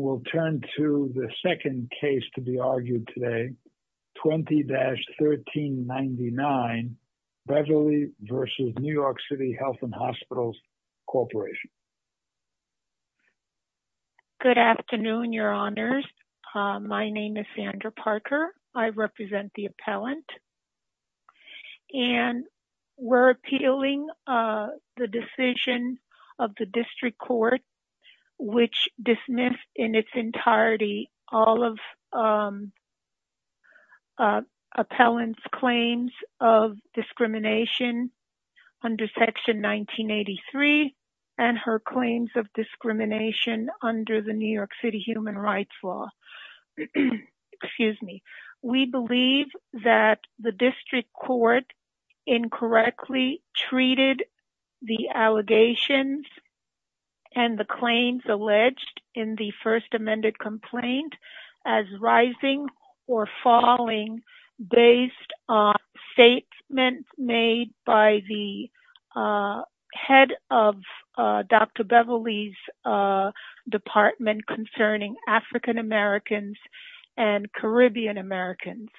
Good afternoon, your honors. My name is Sandra Parker. I represent the appellant. And we're in its entirety all of appellant's claims of discrimination under Section 1983 and her claims of discrimination under the New York City Human Rights Law. Excuse me. We believe that the district court incorrectly treated the allegations and the claims alleged in the first amended complaint as rising or falling based on statements made by the head of Dr. Beverly's department concerning African Americans and Caribbean Americans.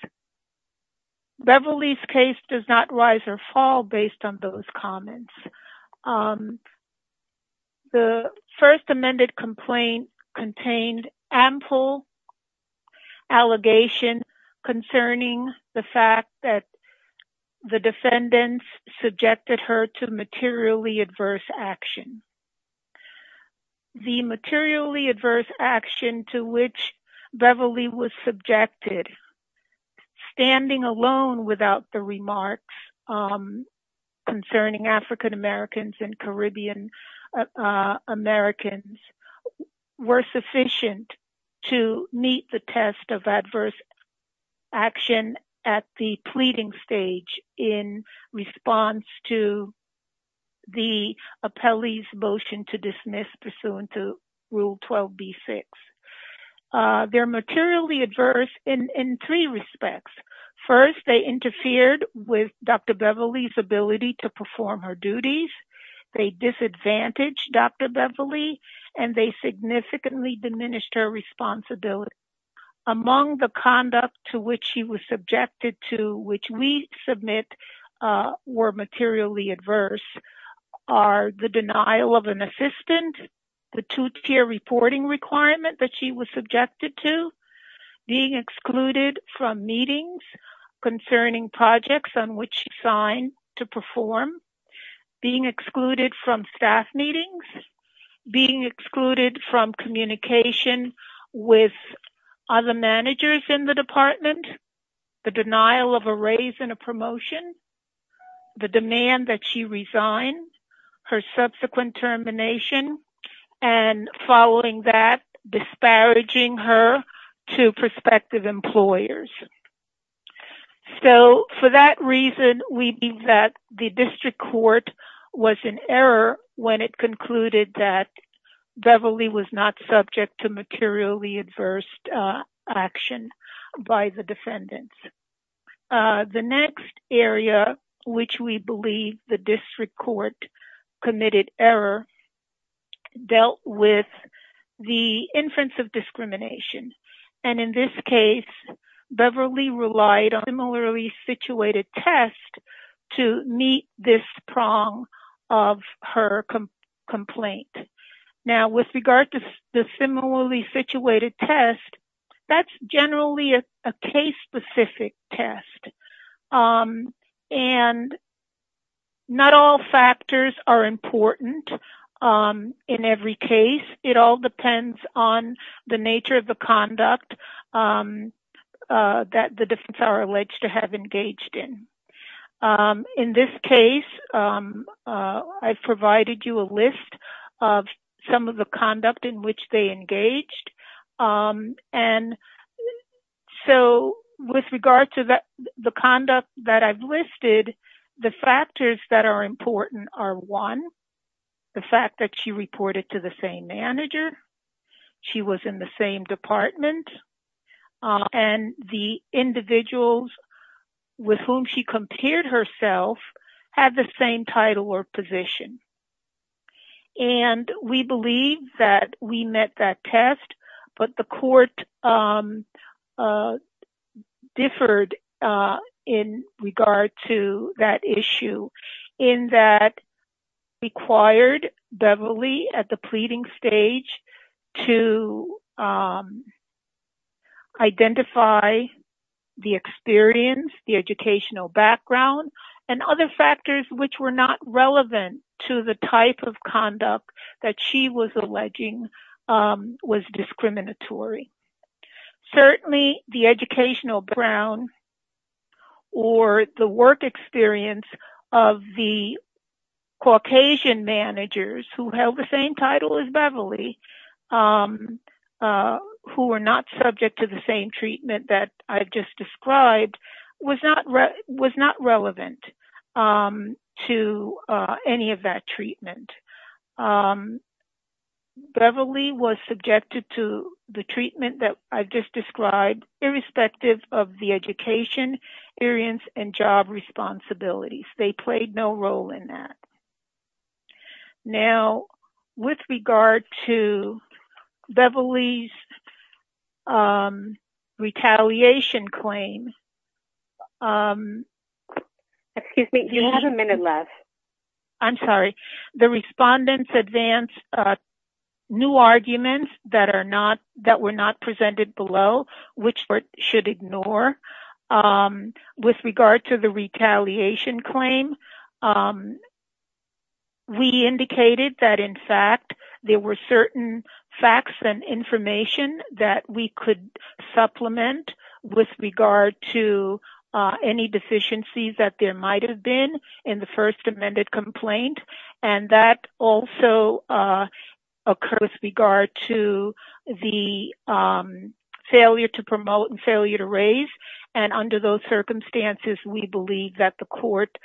Beverly's case does not rise or fall based on those comments. The first amended complaint contained ample allegation concerning the fact that the defendants subjected her to materially adverse action. The materially adverse action to which Beverly was subjected, standing alone without the remarks concerning African Americans and Caribbean Americans were sufficient to meet the test of adverse action at the pleading stage in response to the appellee's motion to dismiss pursuant to Rule 12B-6. They're materially adverse in three respects. First, they interfered with Dr. Beverly's ability to perform her duties. They disadvantaged Dr. Beverly, and they significantly diminished her responsibility. Among the conduct to which she was subjected to, which we submit were materially adverse, are the denial of an assistant, the two-tier reporting requirement that she was subjected to, being excluded from meetings concerning projects on which she signed to perform, being excluded from staff meetings, being excluded from communication with other managers in the department, the denial of a raise in a promotion, the demand that she resign, her subsequent termination, and following that, disparaging her to prospective employers. So for that reason, we believe that the district court was in error when it concluded that Beverly was not subject to materially adverse action by the defendants. The next area, which we believe the district court committed error, dealt with the inference of discrimination. And in this case, Beverly relied on a similarly situated test to meet this prong of her complaint. Now, with regard to the similarly situated test, that's generally a case-specific test. And not all factors are important in every case. It all depends on the nature of the conduct that the defendants are alleged to have engaged in. In this case, I've provided you a list of some of the conduct in which they engaged. And so with regard to the conduct that I've listed, the factors that are important are, one, the fact that she reported to the same manager, she was in the same department, and the individuals with whom she compared herself had the same title or position. And we believe that we met that test, but the court differed in regard to that issue, in that it required Beverly at the pleading stage to identify the experience, the educational background, and other factors which were not relevant to the type of conduct that she was alleging was discriminatory. Certainly, the educational background or the work experience of the Caucasian managers who held the same title as Beverly, who were not subject to the same treatment that I've just described, was not relevant to any of that treatment. Beverly was subjected to the treatment that I've just described, irrespective of the education, experience, and job responsibilities. They played no role in that. Now, with regard to Beverly's retaliation claim, the respondents advanced new arguments that were not presented below, which should ignore. With regard to the retaliation claim, we indicated that, in fact, there were certain facts and information that we could supplement with regard to any deficiencies that there might have been in the first amended complaint. And that also occurred with regard to the failure to promote and failure to raise. And under those circumstances, we believe that the court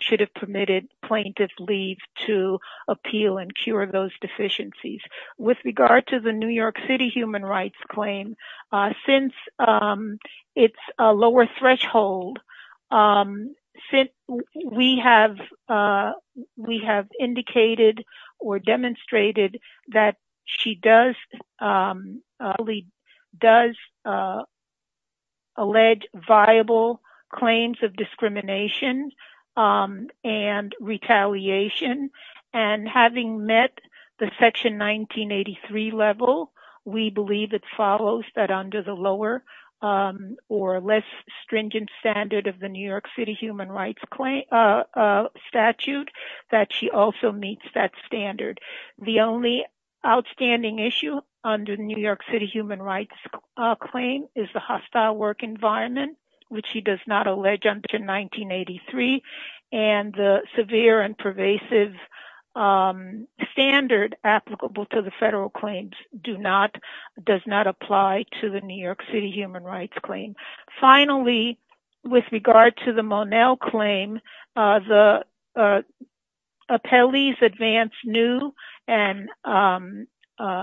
should have permitted plaintiffs leave to appeal and cure those deficiencies. With regard to the New York City human rights claim, since it's a lower threshold, we have indicated or demonstrated that she does allege viable claims of discrimination and retaliation. And having met the Section 1983 level, we believe it follows that under the lower or less stringent standard of the New York City human rights statute that she also meets that standard. The only outstanding issue under the New York City human rights claim is the hostile work environment, which she does not allege until 1983. And the severe and pervasive standard applicable to the federal claims does not apply to the New York City human rights claim. Finally, with regard to the Monell claim, the appellees advanced new and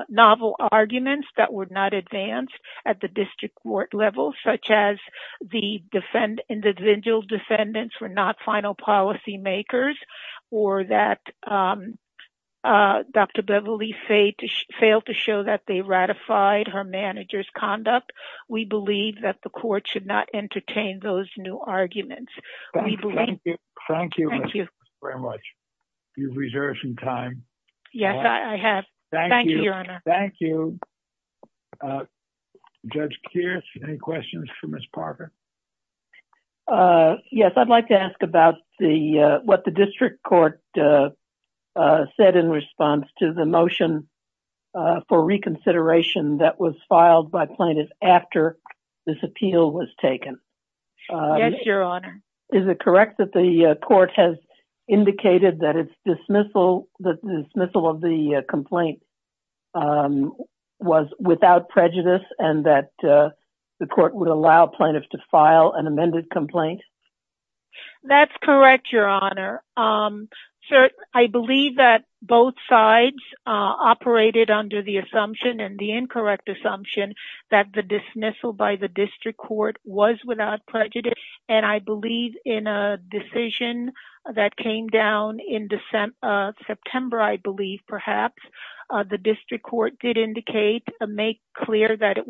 novel arguments that were not advanced at the district court level, such as the individual defendants were not final policy makers or that Dr. Beverly failed to show that they ratified her manager's conduct. We believe that the court should not entertain those new arguments. Thank you very much. You've reserved some time. Yes, I have. Thank you, Your Honor. Thank you. Judge Kears, any questions for Ms. Parker? Yes, I'd like to ask about what the district court said in response to the motion for reconsideration that was filed by plaintiffs after this appeal was taken. Yes, Your Honor. Is it correct that the court has indicated that the dismissal of the complaint was without prejudice and that the court would allow plaintiffs to file an amended complaint? That's correct, Your Honor. I believe that both sides operated under the assumption and the incorrect assumption that the dismissal by the district court was without prejudice. And I believe in a decision that came down in September, I believe, perhaps, the district court did indicate and make clear that it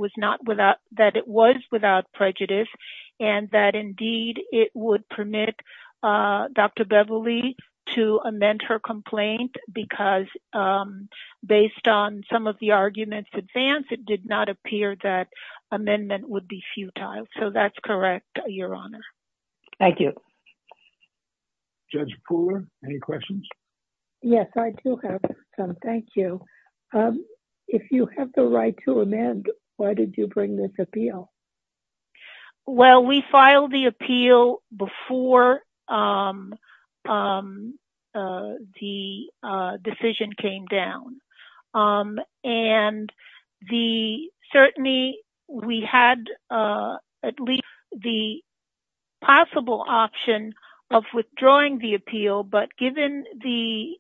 was without prejudice and that indeed it would permit Dr. Beverly to amend her complaint because based on some of the arguments advanced, it did not appear that amendment would be futile. So that's correct, Your Honor. Thank you. Judge Pooler, any questions? Yes, I do have some. Thank you. If you have the right to amend, why did you bring this appeal? Well, we filed the appeal before the decision came down. And certainly, we had at least the possible option of withdrawing the appeal. But given the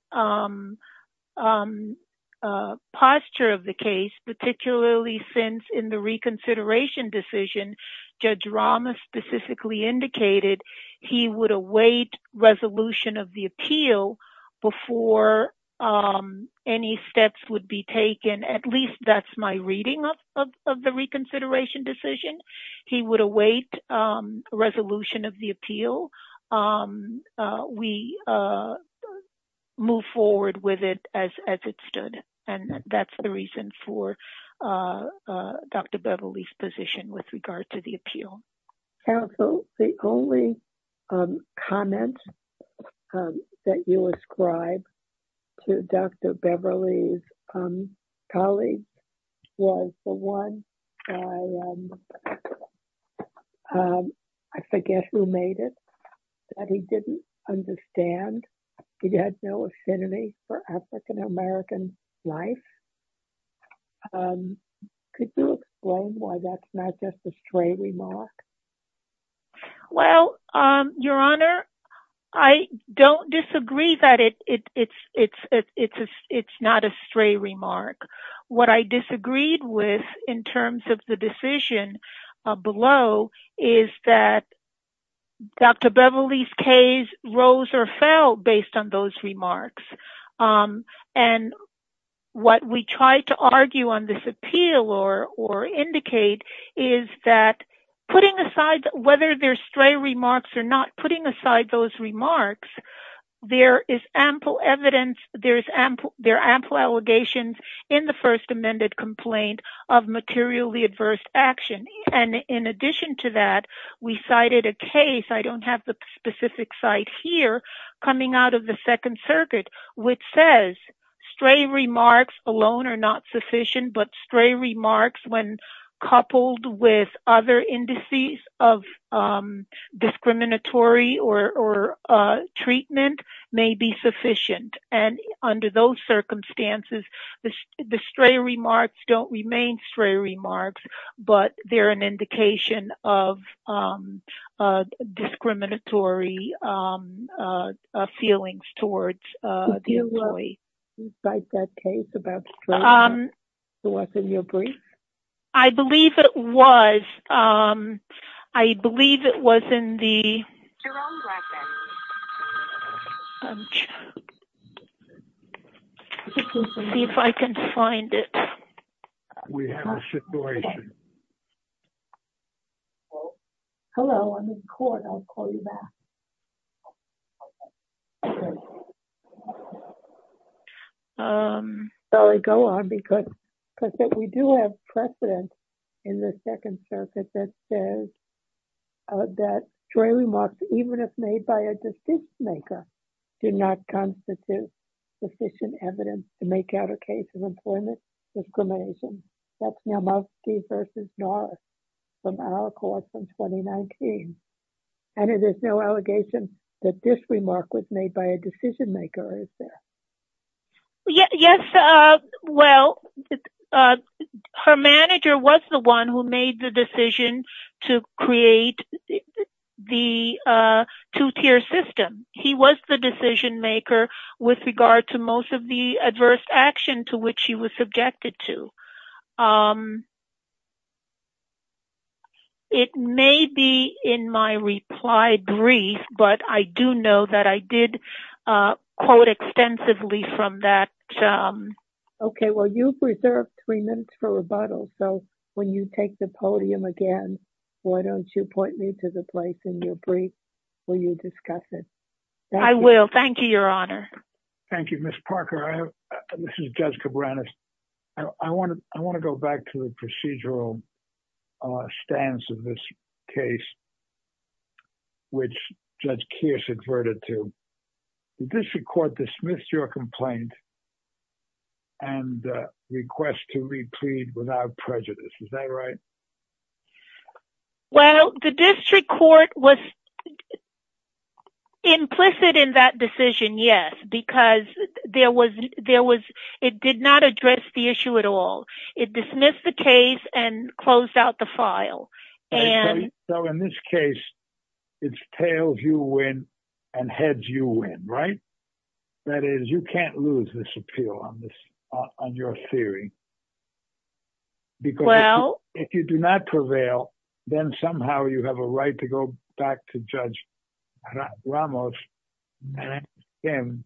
posture of the case, particularly since in the reconsideration decision, Judge Ramos specifically indicated he would await resolution of the appeal before any steps would be taken. At least that's my reading of the reconsideration decision. He would await resolution of the appeal. We move forward with it as it stood. And that's the reason for Dr. Beverly's position with regard to the appeal. Counsel, the only comment that you ascribe to Dr. Beverly's colleague was the one, I forget who made it, that he didn't understand. He had no affinity for African-American life. Could you explain why that's not just a stray remark? Well, Your Honor, I don't disagree that it's not a stray remark. What I disagreed with in terms of the decision below is that Dr. Beverly's case rose or fell based on those remarks. And what we tried to argue on this appeal or indicate is that putting aside whether they're stray remarks or not, putting aside those remarks, there is ample evidence, there are ample allegations in the First Amendment complaint of materially adverse action. And in addition to that, we cited a case, I don't have the specific site here, coming out of the Second Circuit, which says stray remarks alone are not sufficient, but stray remarks when coupled with other indices of discriminatory or treatment may be sufficient. And under those circumstances, the stray remarks don't remain stray remarks, but they're an indication of discriminatory feelings towards the employee. Did you cite that case about stray remarks? It wasn't your brief? I believe it was. I believe it was in the... Jerome Blackburn. See if I can find it. We have a situation. Hello, I'm in court. I'll call you back. I'll go on because we do have precedent in the Second Circuit that says that stray remarks, even if made by a decision maker, do not constitute sufficient evidence to make out a case of employment discrimination. And it is no allegation that this remark was made by a decision maker, is there? Yes, well, her manager was the one who made the decision to create the two-tier system. He was the decision maker with regard to most of the adverse action to which she was subjected to. It may be in my reply brief, but I do know that I did quote extensively from that. Okay, well, you've reserved three minutes for rebuttal. So when you take the podium again, why don't you point me to the place in your brief where you discuss it? I will. Thank you, Your Honor. Thank you, Ms. Parker. This is Judge Cabranes. I want to go back to the procedural stance of this case, which Judge Kearse adverted to. The district court dismissed your complaint and requests to replead without prejudice. Is that right? Well, the district court was implicit in that decision, yes, because it did not address the issue at all. It dismissed the case and closed out the file. So in this case, it's tails you win and heads you win, right? That is, you can't lose this appeal on your theory. Because if you do not prevail, then somehow you have a right to go back to Judge Ramos and ask him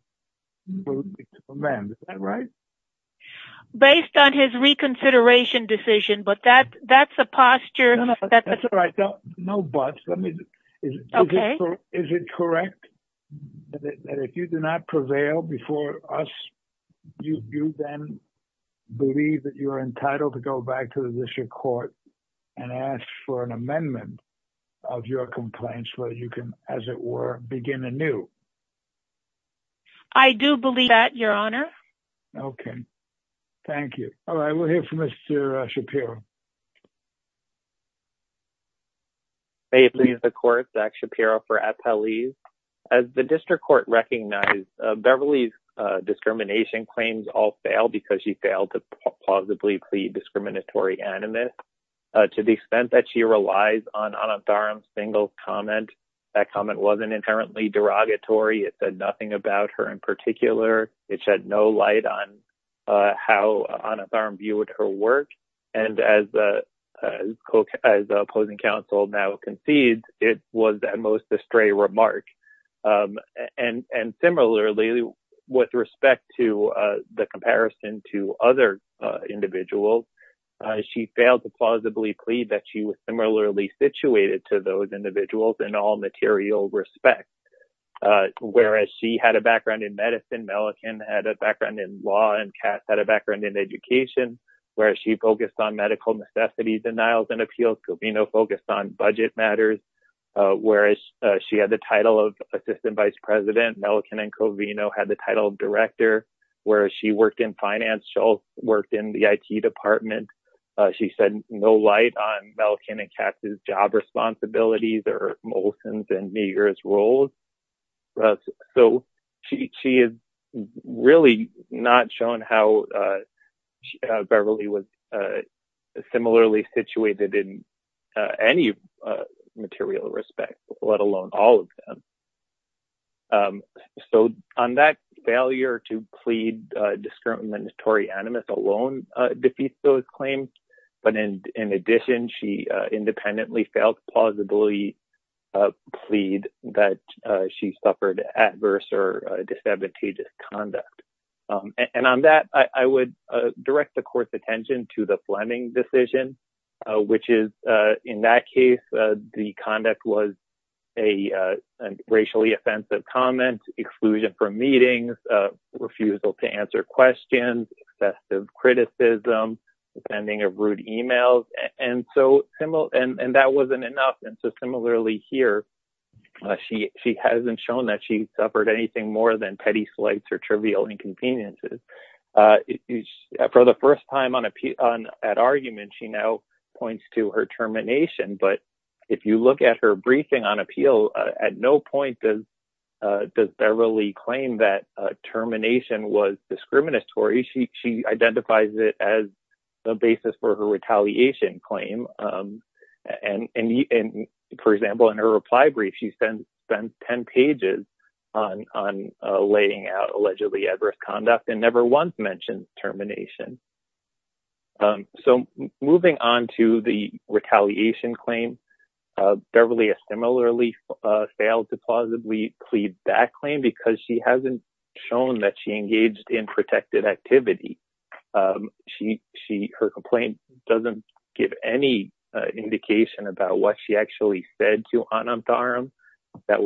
to amend. Is that right? Based on his reconsideration decision, but that's a posture. That's all right. No buts. Is it correct that if you do not prevail before us, you then believe that you're entitled to go back to the district court and ask for an amendment of your complaint so that you can, as it were, begin anew? I do believe that, Your Honor. Okay. Thank you. All right, we'll hear from Mr. Shapiro. And similarly, with respect to the comparison to other individuals, she failed to plausibly plead that she was similarly situated to those individuals in all material respect. Whereas she had a background in medicine, Mellican had a background in law, and Katz had a background in education. Whereas she focused on medical necessities, denials, and appeals, Covino focused on budget matters. Whereas she had the title of assistant vice president, Mellican and Covino had the title of director. Whereas she worked in finance, she also worked in the IT department. She said no light on Mellican and Katz's job responsibilities or Molson's and Meagher's roles. So, she has really not shown how Beverly was similarly situated in any material respect, let alone all of them. So, on that failure to plead discriminatory animus alone defeats those claims. But in addition, she independently failed to plausibly plead that she suffered adverse or disadvantageous conduct. And on that, I would direct the court's attention to the Fleming decision, which is, in that case, the conduct was a racially offensive comment, exclusion from meetings, refusal to answer questions, excessive criticism, sending of rude emails. And that wasn't enough. And so, similarly here, she hasn't shown that she suffered anything more than petty slights or trivial inconveniences. For the first time at argument, she now points to her termination. But if you look at her briefing on appeal, at no point does Beverly claim that termination was discriminatory. She identifies it as the basis for her retaliation claim. And for example, in her reply brief, she sends 10 pages on laying out allegedly adverse conduct and never once mentions termination. So, moving on to the retaliation claim, Beverly has similarly failed to plausibly plead that claim because she hasn't shown that she engaged in protected activity. Her complaint doesn't give any indication about what she actually said to Anand Dharam that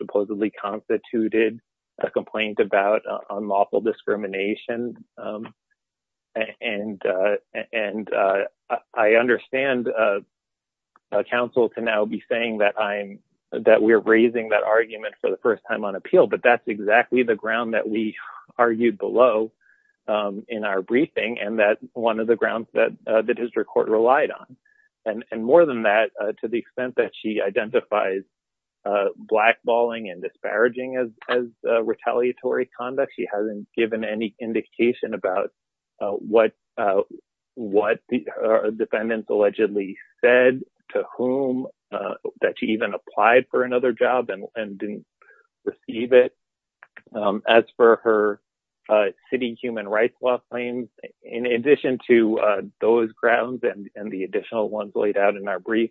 supposedly constituted a complaint about unlawful discrimination. And I understand counsel to now be saying that we're raising that argument for the first time on appeal, but that's exactly the ground that we argued below in our briefing and that one of the grounds that the district court relied on. And more than that, to the extent that she identifies blackballing and disparaging as retaliatory conduct, she hasn't given any indication about what defendants allegedly said to whom that she even applied for another job and didn't receive it. As for her city human rights law claims, in addition to those grounds and the additional ones laid out in our brief,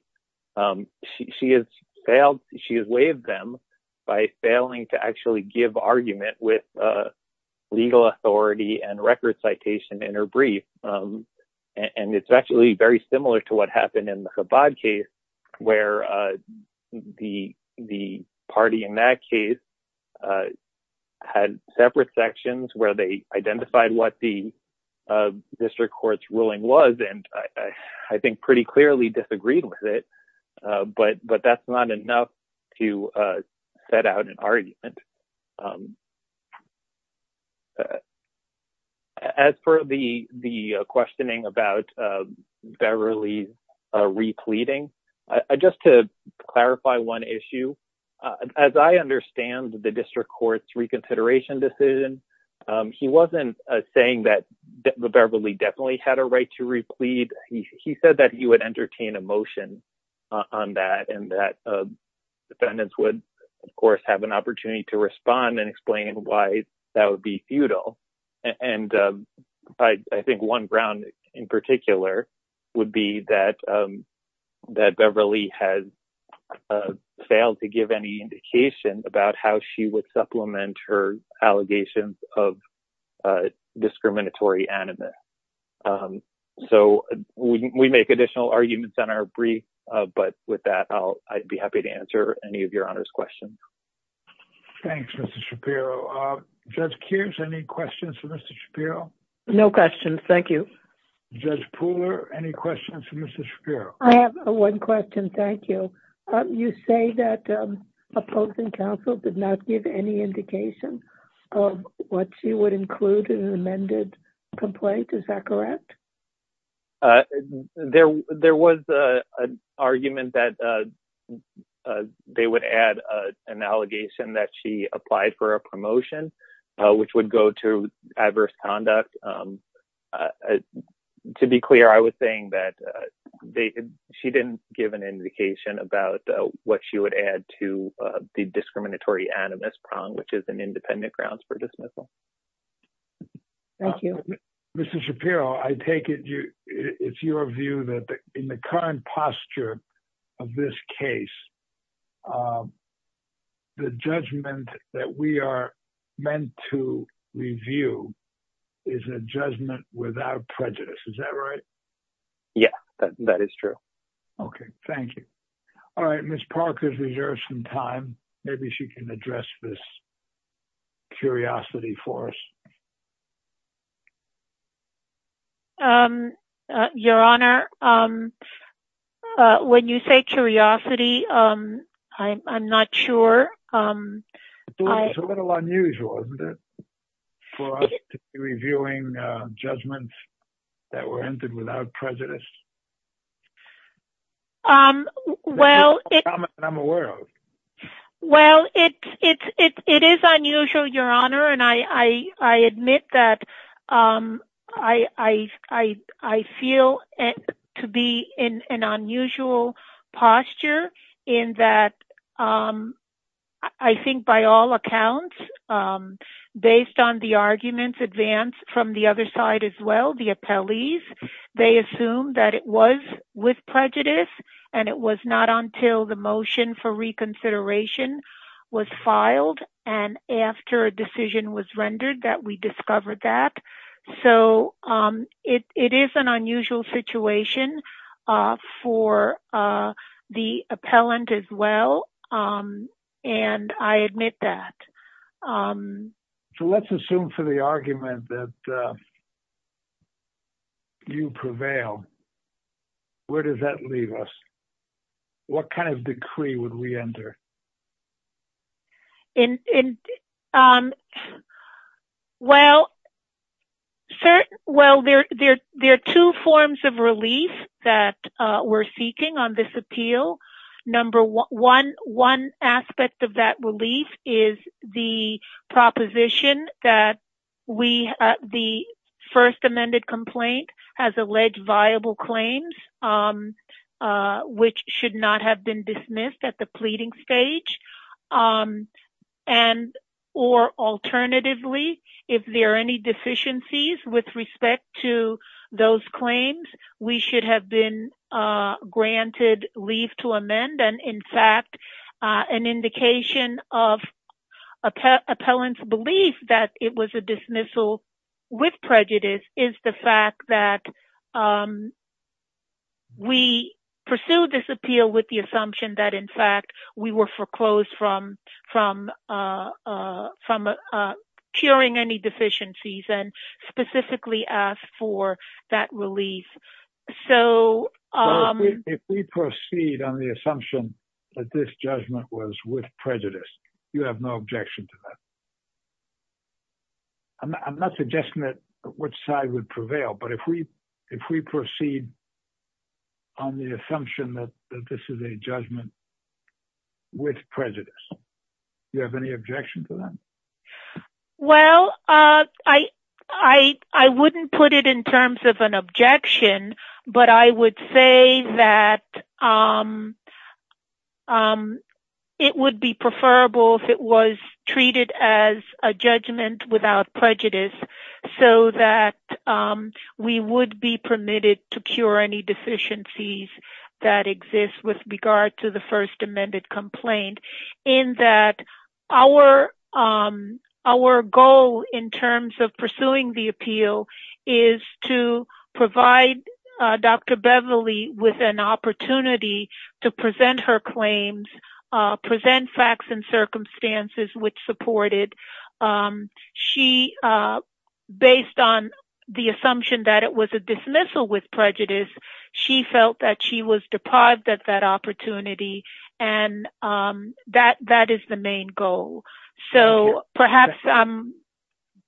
she has failed, she has waived them by failing to actually give argument with legal authority and record citation in her brief. And it's actually very similar to what happened in the Chabad case where the party in that case had separate sections where they identified what the district court's ruling was and I think pretty clearly disagreed with it, but that's not enough to set out an argument. As for the questioning about Beverly's repleading, just to clarify one issue, as I understand the district court's reconsideration decision, he wasn't saying that Beverly definitely had a right to replead, he said that he would entertain a motion on that and that defendants would, of course, have an opportunity to do so. And I think one ground in particular would be that Beverly has failed to give any indication about how she would supplement her allegations of discriminatory animus. So we make additional arguments in our brief, but with that, I'd be happy to answer any of your honors questions. Thanks, Mr. Shapiro. Judge Kears, any questions for Mr. Shapiro? No questions, thank you. Judge Pooler, any questions for Mr. Shapiro? I have one question, thank you. You say that opposing counsel did not give any indication of what she would include in an amended complaint, is that correct? There was an argument that they would add an allegation that she applied for a promotion, which would go to adverse conduct. To be clear, I was saying that she didn't give an indication about what she would add to the discriminatory animus prong, which is an independent grounds for dismissal. Thank you. Mr. Shapiro, I take it it's your view that in the current posture of this case, the judgment that we are meant to review is a judgment without prejudice, is that right? Yeah, that is true. Okay, thank you. All right, Ms. Parker has reserved some time. Maybe she can address this curiosity for us. Your Honor, when you say curiosity, I'm not sure. It's a little unusual, isn't it, for us to be reviewing judgments that were entered without prejudice. Well, it is unusual, Your Honor, and I admit that I feel to be in an unusual posture in that I think by all accounts, based on the arguments advanced from the other side as well, the appellees, they assume that it was with prejudice and it was not until the motion for reconsideration was filed and after a decision was rendered that we discovered that. So it is an unusual situation for the appellant as well, and I admit that. So let's assume for the argument that you prevail. Where does that leave us? What kind of decree would we enter? Well, there are two forms of relief that we're seeking on this appeal. One aspect of that relief is the proposition that the first amended complaint has alleged viable claims, which should not have been dismissed at the pleading stage. And or alternatively, if there are any deficiencies with respect to those claims, we should have been granted leave to amend. And in fact, an indication of appellant's belief that it was a dismissal with prejudice is the fact that we pursued this appeal with the assumption that, in fact, we were foreclosed from curing any deficiencies and specifically asked for that relief. So if we proceed on the assumption that this judgment was with prejudice, you have no objection to that. I'm not suggesting that which side would prevail, but if we if we proceed. On the assumption that this is a judgment. With prejudice, you have any objection to that. Well, I I I wouldn't put it in terms of an objection, but I would say that. It would be preferable if it was treated as a judgment without prejudice so that we would be permitted to cure any deficiencies that exist with regard to the first amended complaint. In that our our goal in terms of pursuing the appeal is to provide Dr. Beverly with an opportunity to present her claims, present facts and circumstances which supported she based on the assumption that it was a dismissal with prejudice. She felt that she was deprived of that opportunity and that that is the main goal. So perhaps I'm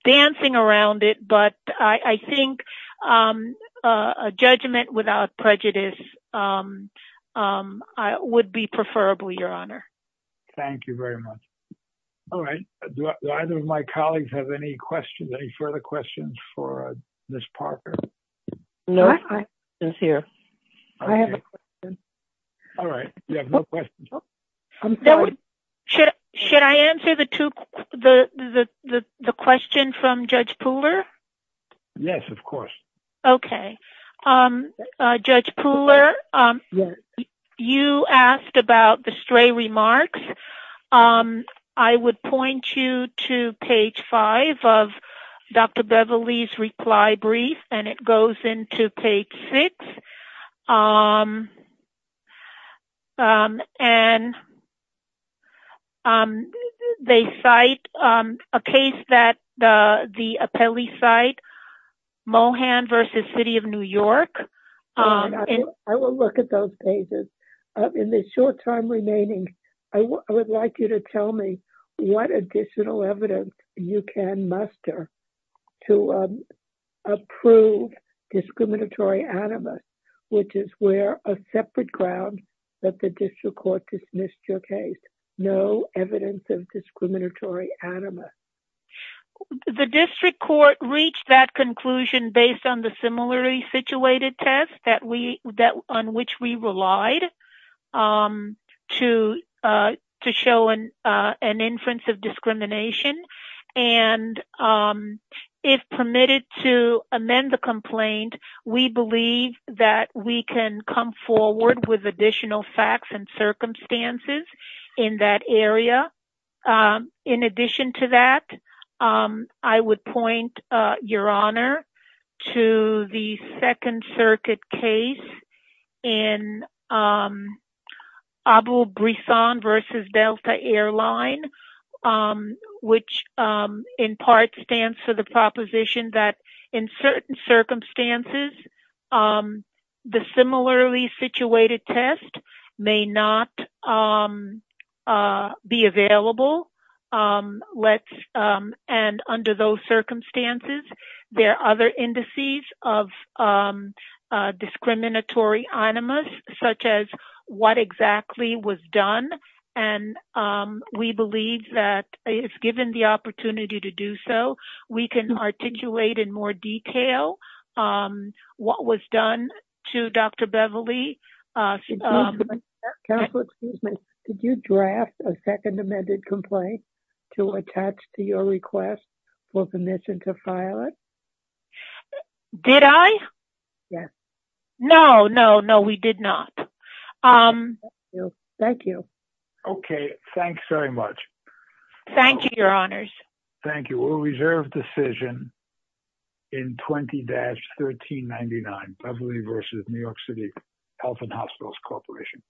dancing around it, but I think a judgment without prejudice would be preferable. Your honor. Thank you very much. All right. Either of my colleagues have any questions, any further questions for this partner? No, I was here. I have a question. All right. You have no questions. I'm sorry. Should should I answer the to the the the the question from Judge Pooler? Yes, of course. OK, Judge Pooler, you asked about the stray remarks. I would point you to page five of Dr. Beverly's reply brief and it goes into page six. And. They cite a case that the appellee cite Mohan versus city of New York. I will look at those pages in the short time remaining. I would like you to tell me what additional evidence you can muster to approve discriminatory animus, which is where a separate ground that the district court dismissed your case. No evidence of discriminatory animus. The district court reached that conclusion based on the similarly situated test that we that on which we relied to to show an inference of discrimination. And if permitted to amend the complaint, we believe that we can come forward with additional facts and circumstances in that area. In addition to that, I would point your honor to the Second Circuit case in Abu Brisson versus Delta Air Line, which in part stands for the proposition that in certain circumstances, the similarly situated test may not be available. Let's. And under those circumstances, there are other indices of discriminatory animus, such as what exactly was done. And we believe that if given the opportunity to do so, we can articulate in more detail what was done to Dr. Beverly. Did you draft a second amended complaint to attach to your request for permission to file it? Did I? Yes. No, no, no, we did not. Thank you. OK. Thanks very much. Thank you, your honors. Thank you. We'll reserve decision. In twenty dash thirteen ninety nine Beverly versus New York City Health and Hospitals Corporation.